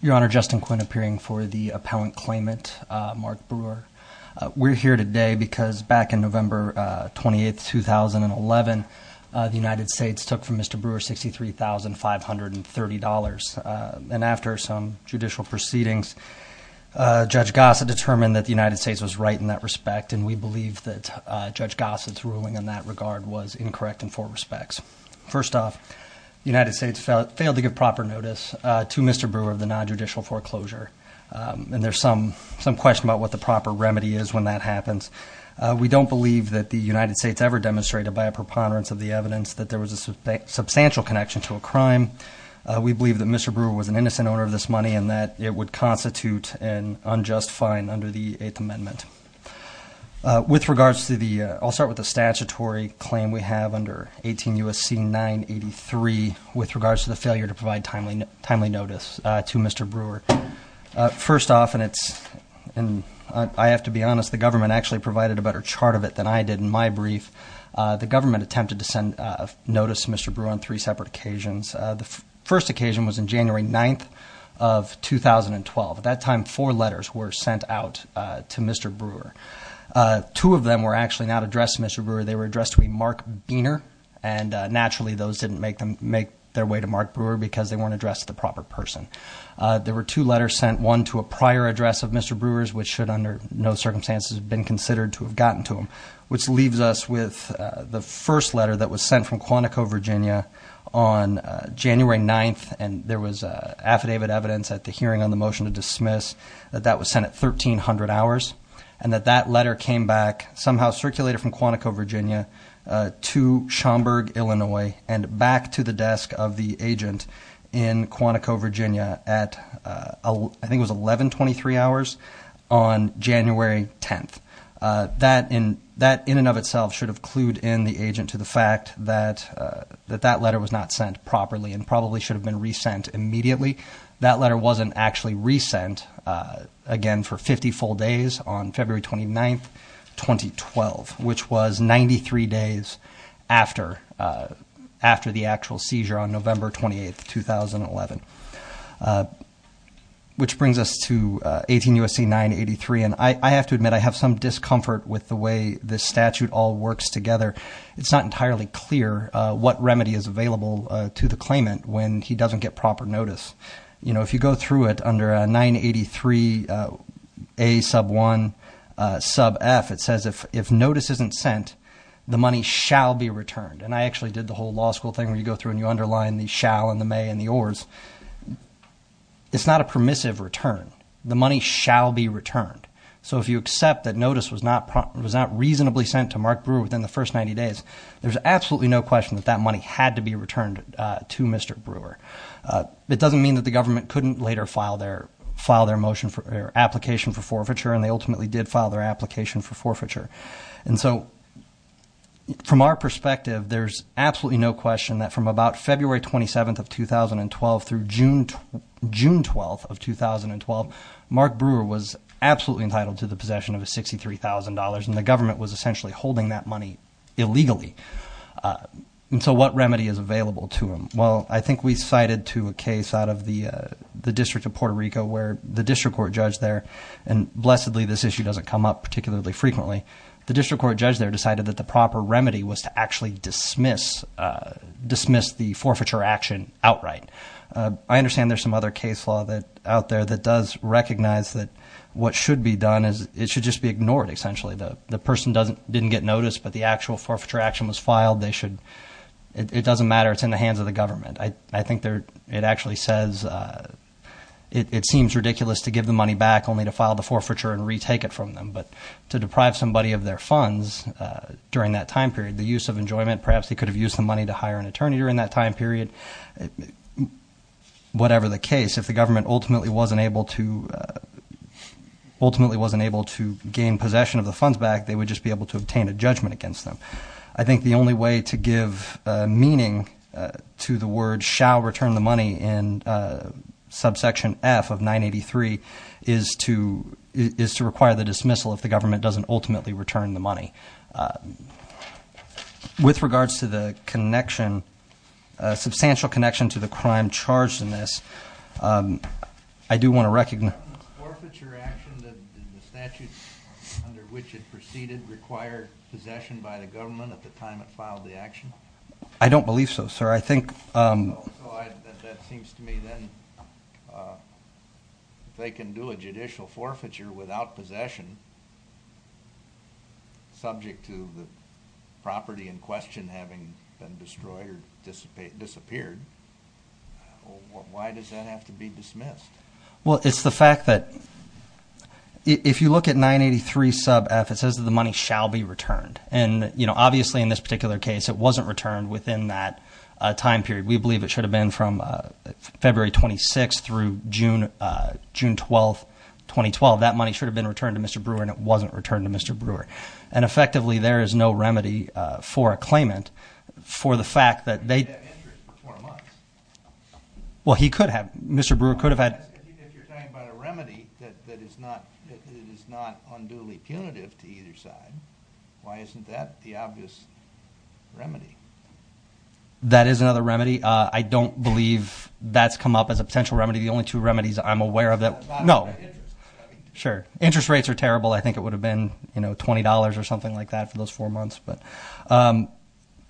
Your Honor, Justin Quinn, appearing for the appellant claimant, Mark Brewer. We're here today because back in November 28, 2011, the United States took from Mr. Brewer $63,530. And after some judicial proceedings, Judge Gossett determined that the United States was right in that respect, and we believe that Judge Gossett's ruling in that regard was incorrect in four respects. First off, the United States failed to give proper notice to Mr. Brewer of the non-judicial foreclosure, and there's some question about what the proper remedy is when that happens. We don't believe that the United States ever demonstrated by a preponderance of the evidence that there was a substantial connection to a crime. We believe that Mr. Brewer was an innocent owner of this money and that it would constitute an unjust fine under the Eighth Amendment. With regards to the, I'll start with the statutory claim we have under 18 U.S.C. 983, with regards to the failure to provide timely notice to Mr. Brewer. First off, and it's, and I have to be honest, the government actually provided a better chart of it than I did in my brief. The government attempted to send notice to Mr. Brewer on three separate occasions. The first occasion was on January 9th of 2012. At that time, four letters were sent out to Mr. Brewer. Two of them were actually not addressed to Mr. Brewer. They were addressed to a Mark Biener, and naturally those didn't make their way to Mark Brewer because they weren't addressed to the proper person. There were two letters sent, one to a prior address of Mr. Brewer's, which should under no circumstances have been considered to have gotten to him, which leaves us with the first letter that was sent from Quantico, Virginia on January 9th, and there was affidavit evidence at the hearing on the motion to dismiss that that was sent at 1300 hours, and that that letter came back, somehow circulated from Quantico, Virginia to Schaumburg, Illinois, and back to the desk of the agent in Quantico, Virginia at, I think it was 1123 hours on January 10th. That in and of itself should have clued in the agent to the fact that that letter was not sent properly and probably should have been re-sent immediately. That letter wasn't actually re-sent, again, for 50 full days on February 29th, 2012, which was 93 days after the actual seizure on November 28th, 2011. Which brings us to 18 U.S.C. 983, and I have to admit I have some discomfort with the way this statute all works together. It's not entirely clear what remedy is available to the claimant when he doesn't get proper notice. You know, if you go through it under 983A sub 1, sub F, it says if notice isn't sent, the money shall be returned. And I actually did the whole law school thing where you go through and you underline the shall and the may and the ors. It's not a permissive return. The money shall be returned. So if you accept that notice was not reasonably sent to Mark Brewer within the first 90 days, there's absolutely no question that that money had to be returned to Mr. Brewer. It doesn't mean that the government couldn't later file their motion or application for forfeiture, and they ultimately did file their application for forfeiture. And so from our perspective, there's absolutely no question that from about February 27th of 2012 through June 12th of 2012, Mark Brewer was absolutely entitled to the possession of $63,000, and the government was essentially holding that money illegally. And so what remedy is available to him? Well, I think we cited to a case out of the District of Puerto Rico where the district court judge there, and blessedly this issue doesn't come up particularly frequently, the district court judge there decided that the proper remedy was to actually dismiss the forfeiture action outright. I understand there's some other case law out there that does recognize that what should be done is it should just be ignored, essentially. The person didn't get noticed, but the actual forfeiture action was filed. It doesn't matter. It's in the hands of the government. I think it actually says it seems ridiculous to give the money back only to file the forfeiture and retake it from them. But to deprive somebody of their funds during that time period, the use of enjoyment, perhaps they could have used the money to hire an attorney during that time period, whatever the case, if the government ultimately wasn't able to gain possession of the funds back, they would just be able to obtain a judgment against them. I think the only way to give meaning to the word shall return the money in subsection F of 983 is to require the dismissal if the government doesn't ultimately return the money. With regards to the substantial connection to the crime charged in this, I do want to recognize... The forfeiture action, the statute under which it proceeded, required possession by the government at the time it filed the action? I don't believe so, sir. I think... So that seems to me then, if they can do a judicial forfeiture without possession, subject to the property in question having been destroyed or disappeared, why does that have to be dismissed? Well, it's the fact that if you look at 983 sub F, it says that the money shall be returned. And obviously in this particular case, it wasn't returned within that time period. We believe it should have been from February 26th through June 12th, 2012. That money should have been returned to Mr. Brewer and it wasn't returned to Mr. Brewer. And effectively, there is no remedy for a claimant for the fact that they... He could have had interest for four months. Well he could have. Mr. Brewer could have had... If you're talking about a remedy that is not unduly punitive to either side, why isn't that the obvious remedy? That is another remedy. I don't believe that's come up as a potential remedy. The only two remedies I'm aware of that... No. Sure. Interest rates are terrible. I think it would have been $20 or something like that for those four months.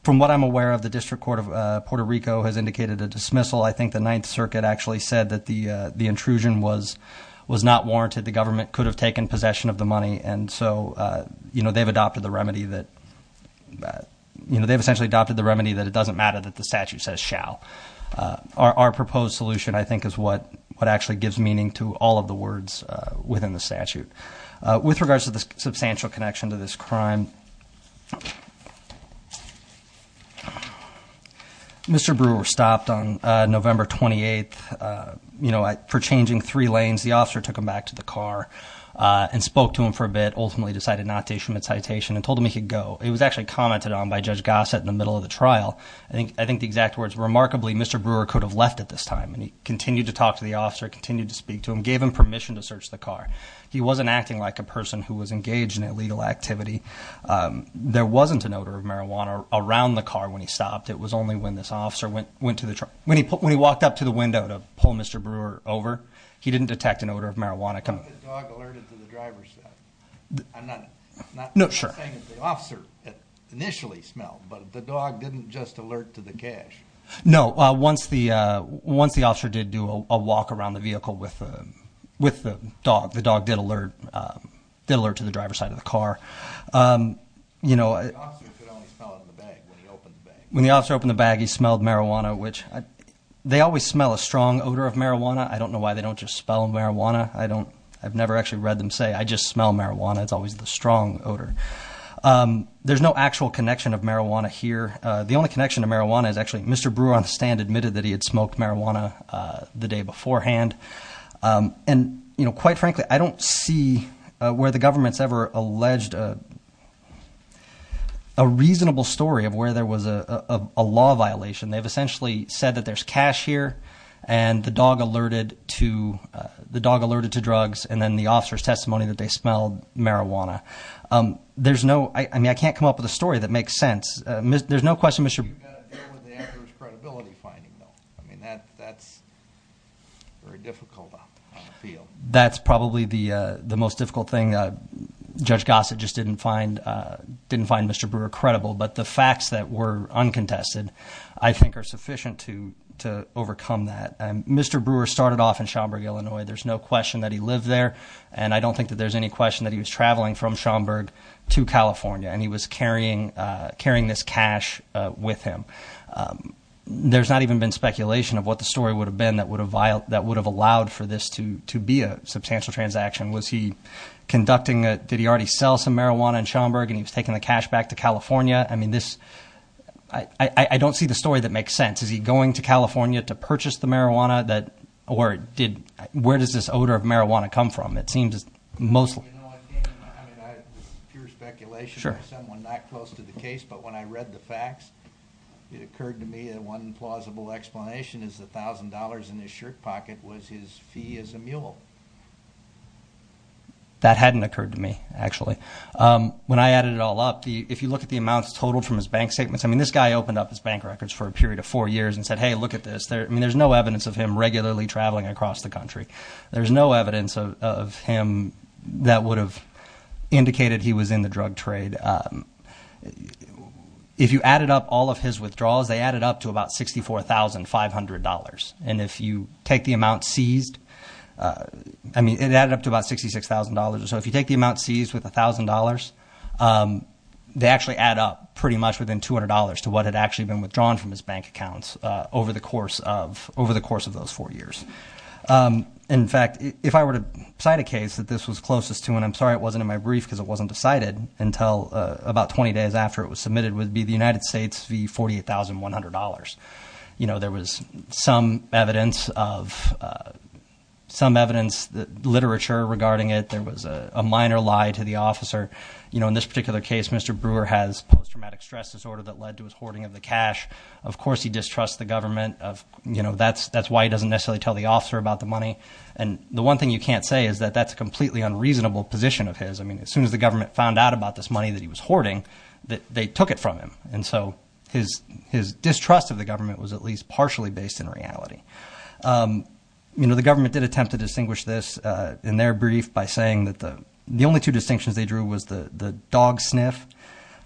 From what I'm aware of, the District Court of Puerto Rico has indicated a dismissal. I think the Ninth Circuit actually said that the intrusion was not warranted. The government could have taken possession of the money. And so, they've adopted the remedy that it doesn't matter that the statute says shall. Our proposed solution, I think, is what actually gives meaning to all of the words within the statute. With regards to the substantial connection to this crime, Mr. Brewer stopped on November 28th for changing three lanes. The officer took him back to the car and spoke to him for a bit, ultimately decided not to issue him a citation, and told him he could go. It was actually commented on by Judge Gossett in the middle of the trial. I think the exact words, remarkably, Mr. Brewer could have left at this time, and he continued to talk to the officer, continued to speak to him, gave him permission to search the car. He wasn't acting like a person who was engaged in illegal activity. There wasn't an odor of marijuana around the car when he stopped. It was only when this officer went to the... Was the dog alerted to the driver's side? I'm not... No, sure. I'm saying that the officer initially smelled, but the dog didn't just alert to the cash. No, once the officer did do a walk around the vehicle with the dog, the dog did alert to the driver's side of the car. The officer could only smell it in the bag when he opened the bag. When the officer opened the bag, he smelled marijuana, which... They always smell a strong odor of marijuana. I don't know why they don't just spell marijuana. I don't... I've never actually read them say, I just smell marijuana. It's always the strong odor. There's no actual connection of marijuana here. The only connection to marijuana is actually Mr. Brewer on the stand admitted that he had smoked marijuana the day beforehand. And quite frankly, I don't see where the government's ever alleged a reasonable story of where there was a law violation. They've essentially said that there's cash here, and the dog alerted to drugs, and then the officer's testimony that they smelled marijuana. There's no... I mean, I can't come up with a story that makes sense. There's no question Mr. Brewer... You've got to deal with the actor's credibility finding though. I mean, that's very difficult on the field. That's probably the most difficult thing. Judge Gossett just didn't find Mr. Brewer credible. But the facts that were uncontested I think are sufficient to overcome that. Mr. Brewer started off in Schaumburg, Illinois. There's no question that he lived there. And I don't think that there's any question that he was traveling from Schaumburg to California, and he was carrying this cash with him. There's not even been speculation of what the story would have been that would have allowed for this to be a substantial transaction. Was he conducting a... I don't see the story that makes sense. Is he going to California to purchase the marijuana? Or where does this odor of marijuana come from? It seems mostly... I mean, I have pure speculation. Sure. Someone not close to the case, but when I read the facts, it occurred to me that one plausible explanation is the $1,000 in his shirt pocket was his fee as a mule. That hadn't occurred to me, actually. When I added it all up, if you look at the amounts totaled from his bank statements, I mean, this guy opened up his bank records for a period of four years and said, hey, look at this. I mean, there's no evidence of him regularly traveling across the country. There's no evidence of him that would have indicated he was in the drug trade. If you added up all of his withdrawals, they added up to about $64,500. And if you take the amount seized, I mean, it added up to about $66,000. So if you take the amount seized with $1,000, they actually add up pretty much within $200 to what had actually been withdrawn from his bank accounts over the course of those four years. In fact, if I were to cite a case that this was closest to, and I'm sorry it wasn't in my brief because it wasn't decided until about 20 days after it was submitted, would be the United States v. $48,100. There was some evidence, literature regarding it. There was a minor lie to the officer. In this particular case, Mr. Brewer has post-traumatic stress disorder that led to his hoarding of the cash. Of course he distrusts the government. That's why he doesn't necessarily tell the officer about the money. And the one thing you can't say is that that's a completely unreasonable position of his. I mean, as soon as the government found out about this money that he was hoarding, they took it from him. And so his distrust of the government was at least partially based in reality. The government did attempt to distinguish this in their brief by saying that the only two distinctions they drew was the dog sniff.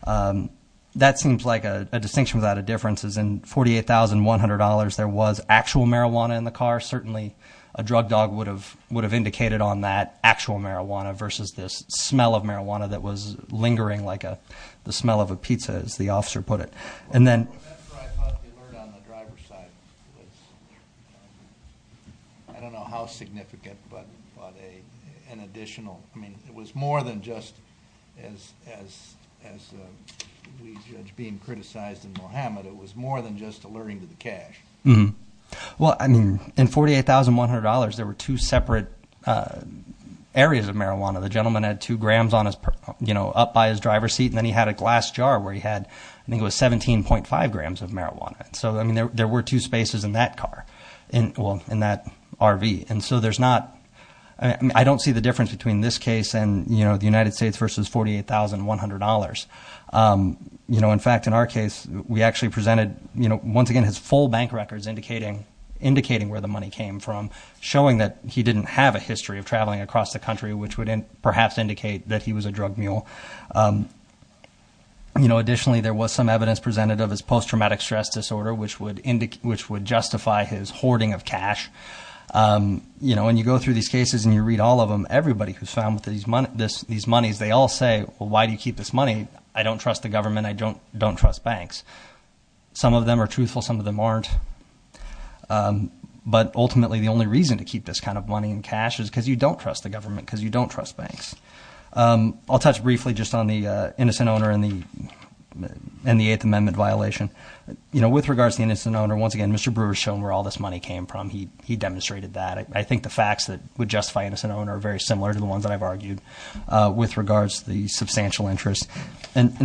That seems like a distinction without a difference. In $48,100, there was actual marijuana in the car. Certainly a drug dog would have indicated on that actual marijuana versus this smell of marijuana that was lingering like the smell of a pizza, as the officer put it. And then- That's where I thought the alert on the driver's side was, I don't know how significant, but an additional- I mean, it was more than just, as we judge being criticized in Mohammed, it was more than just alerting to the cash. Well, I mean, in $48,100, there were two separate areas of marijuana. The gentleman had two grams up by his driver's seat, and then he had a glass jar where he had, I think it was 17.5 grams of marijuana. So, I mean, there were two spaces in that car, well, in that RV. And so there's not-I don't see the difference between this case and the United States versus $48,100. In fact, in our case, we actually presented, once again, his full bank records indicating where the money came from, showing that he didn't have a history of traveling across the country, which would perhaps indicate that he was a drug mule. Additionally, there was some evidence presented of his post-traumatic stress disorder, which would justify his hoarding of cash. When you go through these cases and you read all of them, everybody who's found these monies, they all say, well, why do you keep this money? I don't trust the government. I don't trust banks. Some of them are truthful. Some of them aren't. But ultimately, the only reason to keep this kind of money and cash is because you don't trust the government, because you don't trust banks. I'll touch briefly just on the innocent owner and the Eighth Amendment violation. With regards to the innocent owner, once again, Mr. Brewer has shown where all this money came from. He demonstrated that. I think the facts that would justify innocent owner are very similar to the ones that I've argued with regards to the substantial interest.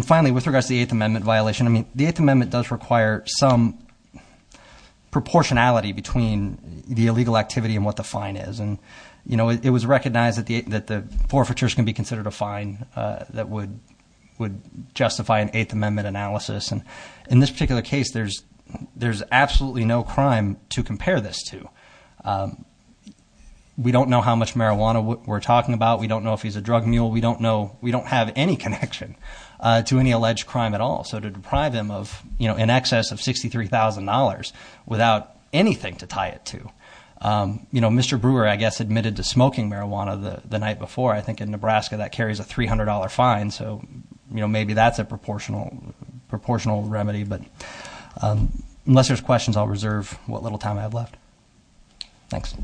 Finally, with regards to the Eighth Amendment violation, the Eighth Amendment does require some proportionality between the illegal activity and what the fine is. It was recognized that the forfeitures can be considered a fine that would justify an Eighth Amendment analysis. In this particular case, there's absolutely no crime to compare this to. We don't know how much marijuana we're talking about. We don't know if he's a drug mule. We don't have any connection to any alleged crime at all. So to deprive him of in excess of $63,000 without anything to tie it to. Mr. Brewer, I guess, admitted to smoking marijuana the night before. I think in Nebraska that carries a $300 fine. So maybe that's a proportional remedy. But unless there's questions, I'll reserve what little time I have left. Thanks.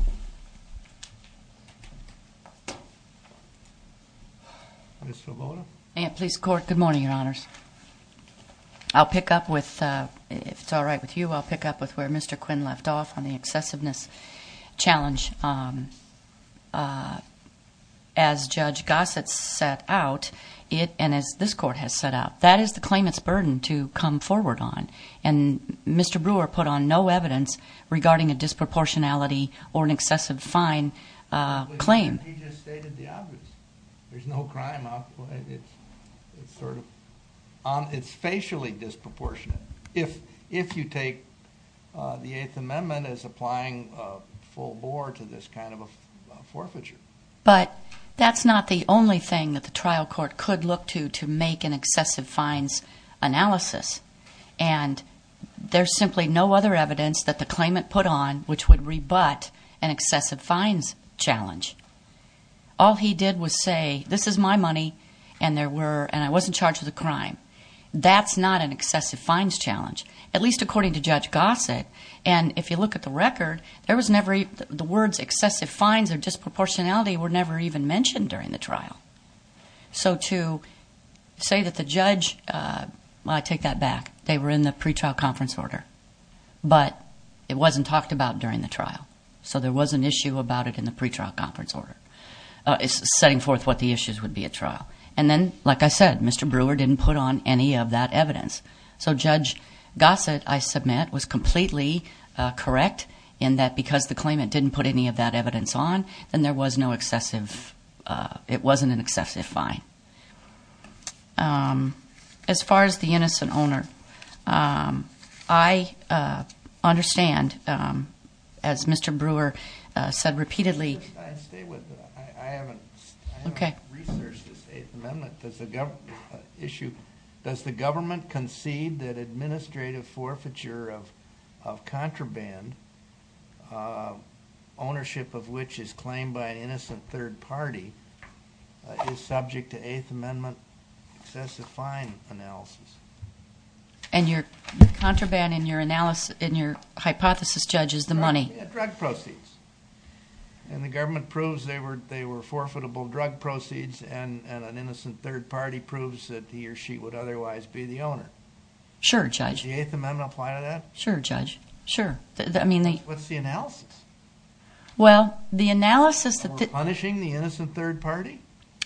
Ms. Sloboda. Police Court, good morning, Your Honors. I'll pick up with, if it's all right with you, I'll pick up with where Mr. Quinn left off on the excessiveness challenge. As Judge Gossett set out, and as this court has set out, that is the claimant's burden to come forward on. And Mr. Brewer put on no evidence regarding a disproportionality or an excessive fine claim. He just stated the obvious. There's no crime out there. It's sort of, it's facially disproportionate. If you take the Eighth Amendment as applying full bore to this kind of a forfeiture. But that's not the only thing that the trial court could look to to make an excessive fines analysis. And there's simply no other evidence that the claimant put on which would rebut an excessive fines challenge. All he did was say, this is my money, and I wasn't charged with a crime. That's not an excessive fines challenge, at least according to Judge Gossett. And if you look at the record, the words excessive fines or disproportionality were never even mentioned during the trial. So to say that the judge, I take that back. They were in the pretrial conference order. But it wasn't talked about during the trial. So there was an issue about it in the pretrial conference order. It's setting forth what the issues would be at trial. And then, like I said, Mr. Brewer didn't put on any of that evidence. So Judge Gossett, I submit, was completely correct in that because the claimant didn't put any of that evidence on, then there was no excessive, it wasn't an excessive fine. As far as the innocent owner, I understand, as Mr. Brewer said repeatedly- I'd stay with that. I haven't researched this Eighth Amendment issue. Does the government concede that administrative forfeiture of contraband, ownership of which is claimed by an innocent third party, is subject to Eighth Amendment excessive fine analysis? And your contraband in your hypothesis, Judge, is the money. Drug proceeds. And the government proves they were forfeitable drug proceeds, and an innocent third party proves that he or she would otherwise be the owner. Sure, Judge. Did the Eighth Amendment apply to that? Sure, Judge. Sure. What's the analysis? Well, the analysis- That we're punishing the innocent third party?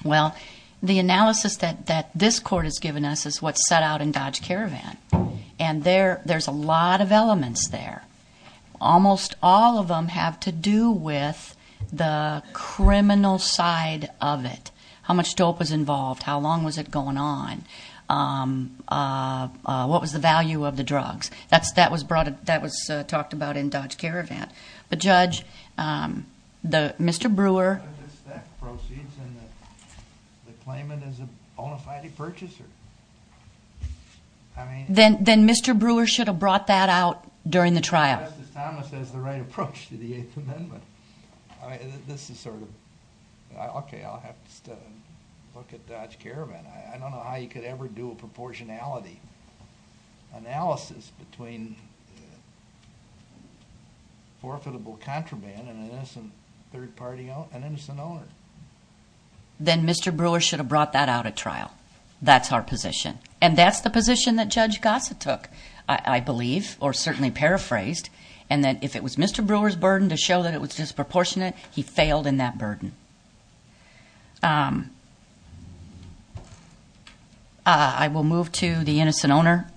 Well, the analysis that this court has given us is what's set out in Dodge Caravan. And there's a lot of elements there. Almost all of them have to do with the criminal side of it. How much dope was involved? How long was it going on? What was the value of the drugs? That was talked about in Dodge Caravan. But, Judge, Mr. Brewer- That proceeds and the claimant is a bona fide purchaser. I mean- Then Mr. Brewer should have brought that out during the trial. Justice Thomas has the right approach to the Eighth Amendment. This is sort of- Okay, I'll have to look at Dodge Caravan. I don't know how you could ever do a proportionality analysis between forfeitable contraband and an innocent third party, an innocent owner. Then Mr. Brewer should have brought that out at trial. That's our position. And that's the position that Judge Gossett took, I believe, or certainly paraphrased. And that if it was Mr. Brewer's burden to show that it was disproportionate, he failed in that burden. I will move to the innocent owner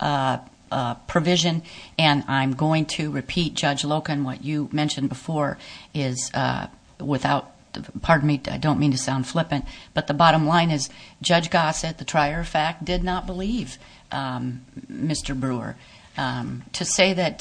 provision. And I'm going to repeat, Judge Loken, what you mentioned before is without- Pardon me, I don't mean to sound flippant. But the bottom line is Judge Gossett, the trier of fact, did not believe Mr. Brewer. To say that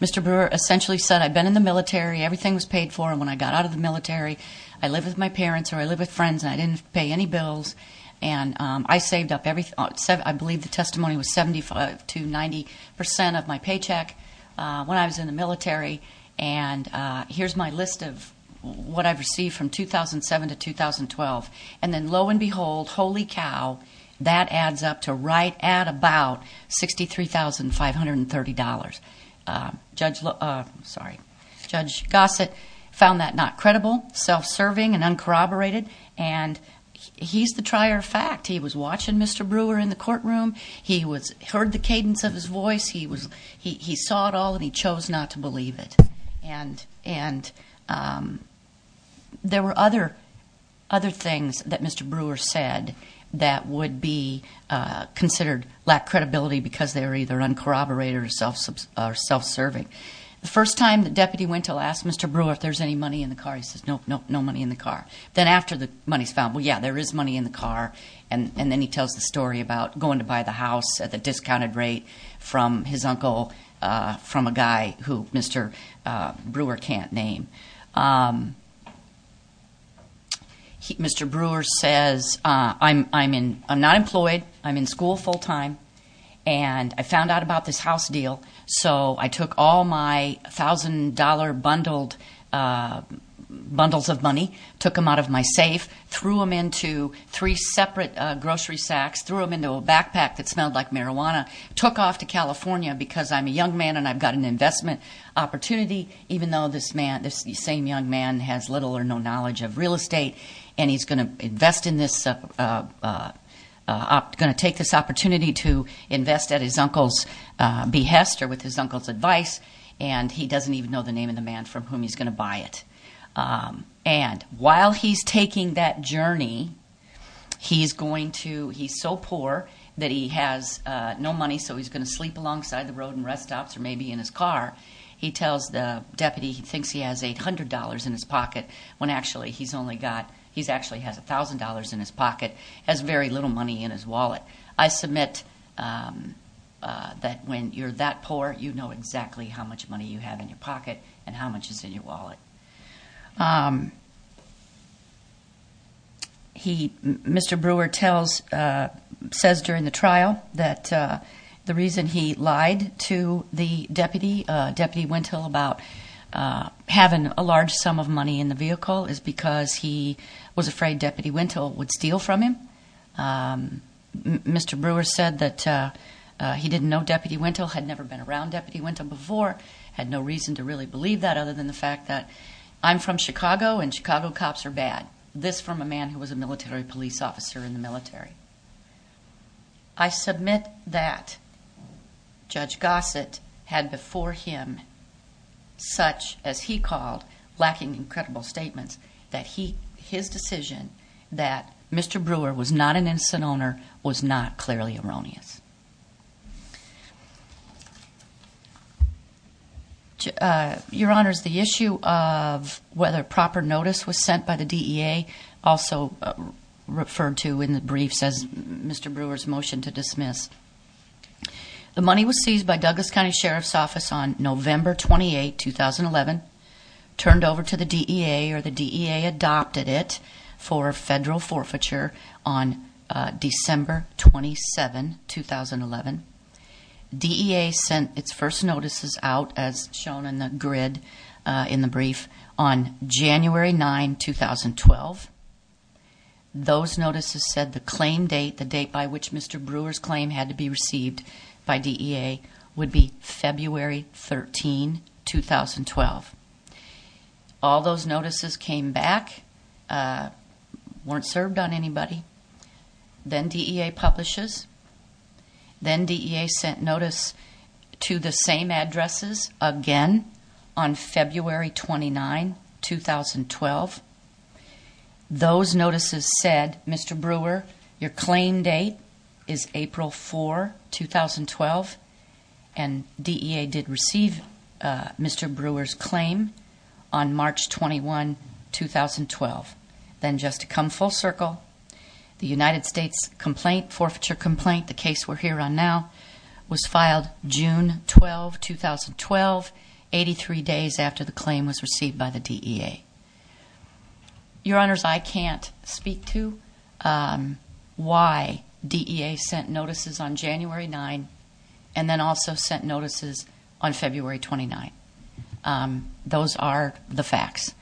Mr. Brewer essentially said, I've been in the military, everything was paid for, and when I got out of the military I lived with my parents or I lived with friends and I didn't pay any bills. And I saved up every- I believe the testimony was 75 to 90% of my paycheck when I was in the military. And here's my list of what I've received from 2007 to 2012. And then lo and behold, holy cow, that adds up to right at about $63,530. Judge Gossett found that not credible, self-serving, and uncorroborated. And he's the trier of fact. He was watching Mr. Brewer in the courtroom. He heard the cadence of his voice. He saw it all and he chose not to believe it. And there were other things that Mr. Brewer said that would be considered lack credibility because they were either uncorroborated or self-serving. The first time the deputy went to ask Mr. Brewer if there's any money in the car, he says, nope, no money in the car. Then after the money's found, well, yeah, there is money in the car. And then he tells the story about going to buy the house at the discounted rate from his uncle, from a guy who Mr. Brewer can't name. Mr. Brewer says, I'm not employed, I'm in school full time, and I found out about this house deal. So I took all my $1,000 bundles of money, took them out of my safe, threw them into three separate grocery sacks, threw them into a backpack that smelled like marijuana, took off to California because I'm a young man and I've got an investment opportunity, even though this same young man has little or no knowledge of real estate, and he's going to take this opportunity to invest at his uncle's behest or with his uncle's advice, and he doesn't even know the name of the man from whom he's going to buy it. And while he's taking that journey, he's so poor that he has no money, so he's going to sleep alongside the road in rest stops or maybe in his car. He tells the deputy he thinks he has $800 in his pocket when actually he's only got, he actually has $1,000 in his pocket, has very little money in his wallet. I submit that when you're that poor, you know exactly how much money you have in your pocket and how much is in your wallet. Mr. Brewer says during the trial that the reason he lied to the deputy, Deputy Wintle, about having a large sum of money in the vehicle is because he was afraid Deputy Wintle would steal from him. Mr. Brewer said that he didn't know Deputy Wintle, had never been around Deputy Wintle before, had no reason to really believe that other than the fact that I'm from Chicago and Chicago cops are bad. This from a man who was a military police officer in the military. I submit that Judge Gossett had before him such, as he called, lacking incredible statements, that his decision that Mr. Brewer was not an innocent owner was not clearly erroneous. Your Honors, the issue of whether proper notice was sent by the DEA, also referred to in the brief says Mr. Brewer's motion to dismiss. The money was seized by Douglas County Sheriff's Office on November 28, 2011, turned over to the DEA or the DEA adopted it for federal forfeiture on December 27, 2011. DEA sent its first notices out as shown in the grid in the brief on January 9, 2012. Those notices said the claim date, the date by which Mr. Brewer's claim had to be received by DEA would be February 13, 2012. All those notices came back, weren't served on anybody. Then DEA publishes. Then DEA sent notice to the same addresses again on February 29, 2012. Those notices said, Mr. Brewer, your claim date is April 4, 2012, and DEA did receive Mr. Brewer's claim on March 21, 2012. Then just to come full circle, the United States forfeiture complaint, the case we're here on now, was filed June 12, 2012, 83 days after the claim was received by the DEA. Your Honors, I can't speak to why DEA sent notices on January 9 and then also sent notices on February 29. Those are the facts.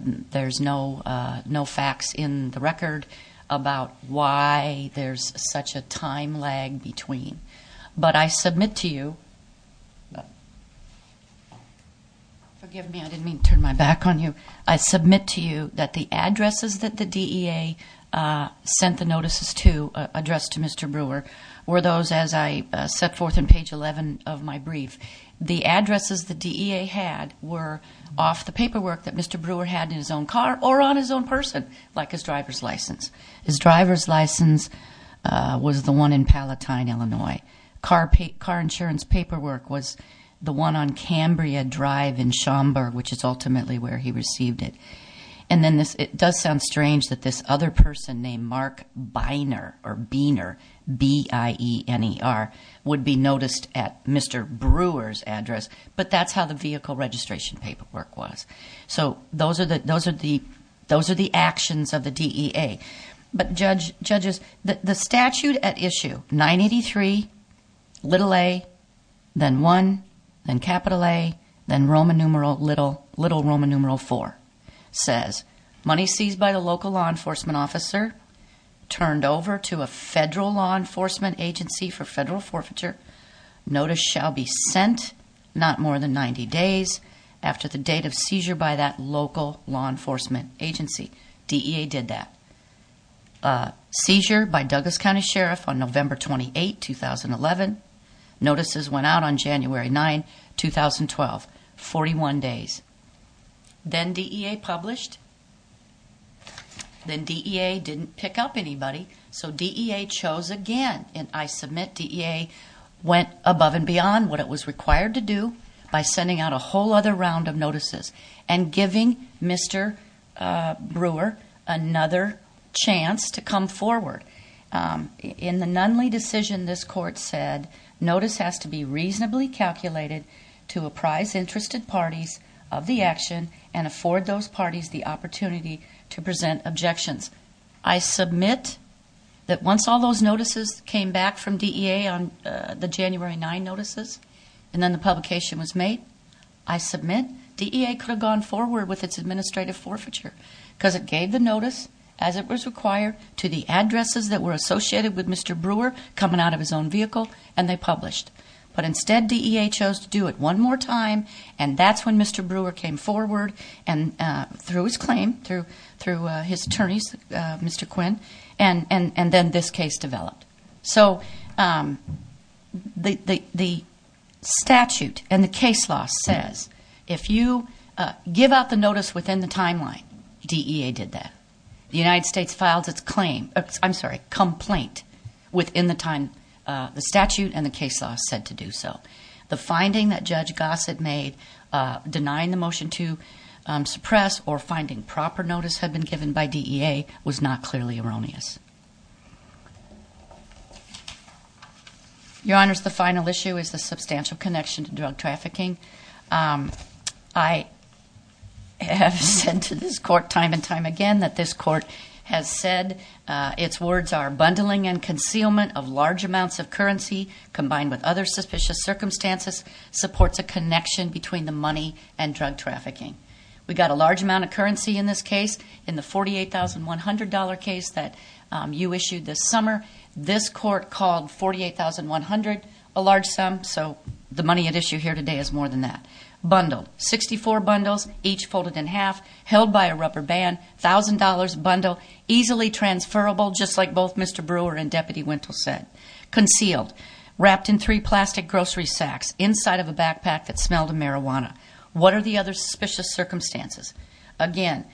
There's no facts in the record about why there's such a time lag between. But I submit to you, forgive me, I didn't mean to turn my back on you. I submit to you that the addresses that the DEA sent the notices to, addressed to Mr. Brewer, were those as I set forth in page 11 of my brief. The addresses the DEA had were off the paperwork that Mr. Brewer had in his own car or on his own person, like his driver's license. His driver's license was the one in Palatine, Illinois. Car insurance paperwork was the one on Cambria Drive in Schaumburg, which is ultimately where he received it. And then it does sound strange that this other person named Mark Beiner, B-I-E-N-E-R, would be noticed at Mr. Brewer's address, but that's how the vehicle registration paperwork was. So those are the actions of the DEA. But, judges, the statute at issue, 983, little a, then 1, then capital A, then Roman numeral little, little Roman numeral 4, says, Money seized by the local law enforcement officer turned over to a federal law enforcement agency for federal forfeiture. Notice shall be sent not more than 90 days after the date of seizure by that local law enforcement agency. DEA did that. Seizure by Douglas County Sheriff on November 28, 2011. Notices went out on January 9, 2012, 41 days. Then DEA published. Then DEA didn't pick up anybody, so DEA chose again. And I submit DEA went above and beyond what it was required to do by sending out a whole other round of notices and giving Mr. Brewer another chance to come forward. In the Nunley decision, this court said, Notice has to be reasonably calculated to apprise interested parties of the action and afford those parties the opportunity to present objections. I submit that once all those notices came back from DEA on the January 9 notices, and then the publication was made, I submit DEA could have gone forward with its administrative forfeiture because it gave the notice as it was required to the addresses that were associated with Mr. Brewer coming out of his own vehicle, and they published. But instead DEA chose to do it one more time, and that's when Mr. Brewer came forward and threw his claim through his attorneys, Mr. Quinn, and then this case developed. So the statute and the case law says if you give out the notice within the timeline, DEA did that. The United States filed its complaint within the time the statute and the case law said to do so. The finding that Judge Gossett made denying the motion to suppress or finding proper notice had been given by DEA was not clearly erroneous. Your Honors, the final issue is the substantial connection to drug trafficking. I have said to this court time and time again that this court has said its words are bundling and concealment of large amounts of currency combined with other suspicious circumstances supports a connection between the money and drug trafficking. We got a large amount of currency in this case. In the $48,100 case that you issued this summer, this court called $48,100 a large sum, so the money at issue here today is more than that. Bundled, 64 bundles, each folded in half, held by a rubber band, $1,000 bundle, easily transferable just like both Mr. Brewer and Deputy Wintle said. Concealed, wrapped in three plastic grocery sacks inside of a backpack that smelled of marijuana. What are the other suspicious circumstances? Again,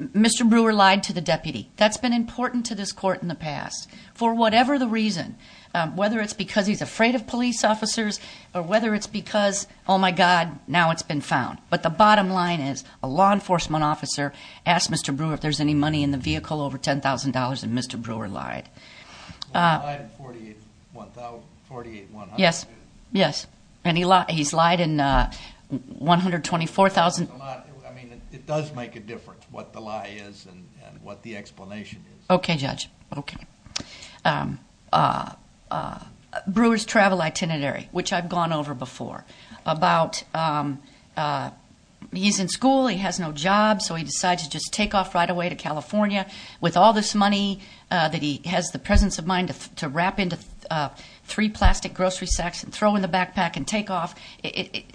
Mr. Brewer lied to the deputy. That's been important to this court in the past for whatever the reason, whether it's because he's afraid of police officers or whether it's because, oh, my God, now it's been found. But the bottom line is a law enforcement officer asked Mr. Brewer if there's any money in the vehicle over $10,000, and Mr. Brewer lied. Well, he lied in $48,100. Yes, yes, and he's lied in $124,000. I mean, it does make a difference what the lie is and what the explanation is. Okay, Judge, okay. Brewer's travel itinerary, which I've gone over before, about he's in school, he has no job, so he decides to just take off right away to California with all this money that he has the presence of mind to wrap into three plastic grocery sacks and throw in the backpack and take off. The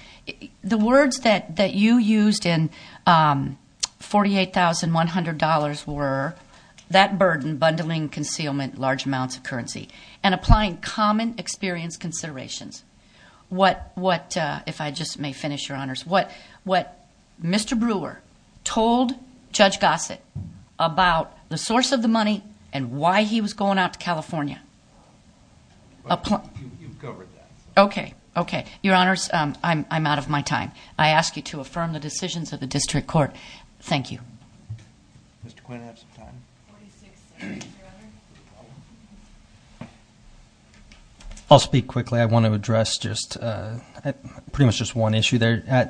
words that you used in $48,100 were that burden, bundling, concealment, large amounts of currency, and applying common experience considerations. What, if I just may finish, Your Honors, what Mr. Brewer told Judge Gossett about the source of the money and why he was going out to California. You've covered that. Okay, okay. Your Honors, I'm out of my time. I ask you to affirm the decisions of the district court. Thank you. Mr. Quinn, do you have some time? I'll speak quickly. I want to address just pretty much just one issue there.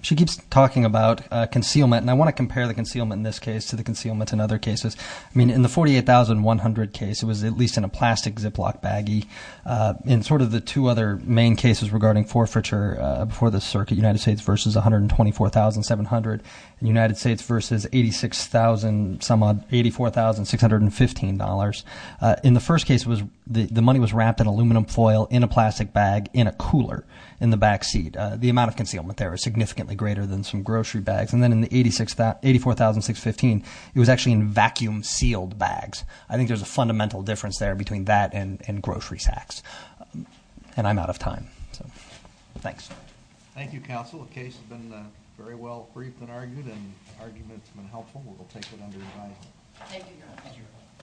She keeps talking about concealment, and I want to compare the concealment in this case to the concealment in other cases. I mean, in the $48,100 case, it was at least in a plastic Ziploc baggie. In sort of the two other main cases regarding forfeiture before the circuit, United States versus $124,700, and United States versus $86,000, some odd, $84,615. In the first case, the money was wrapped in aluminum foil in a plastic bag in a cooler in the backseat. The amount of concealment there was significantly greater than some grocery bags. And then in the $84,615, it was actually in vacuum-sealed bags. I think there's a fundamental difference there between that and grocery sacks. And I'm out of time. Thanks. Thank you, Counsel. The case has been very well briefed and argued, and the argument has been helpful. We'll take it under review. Thank you, Your Honors.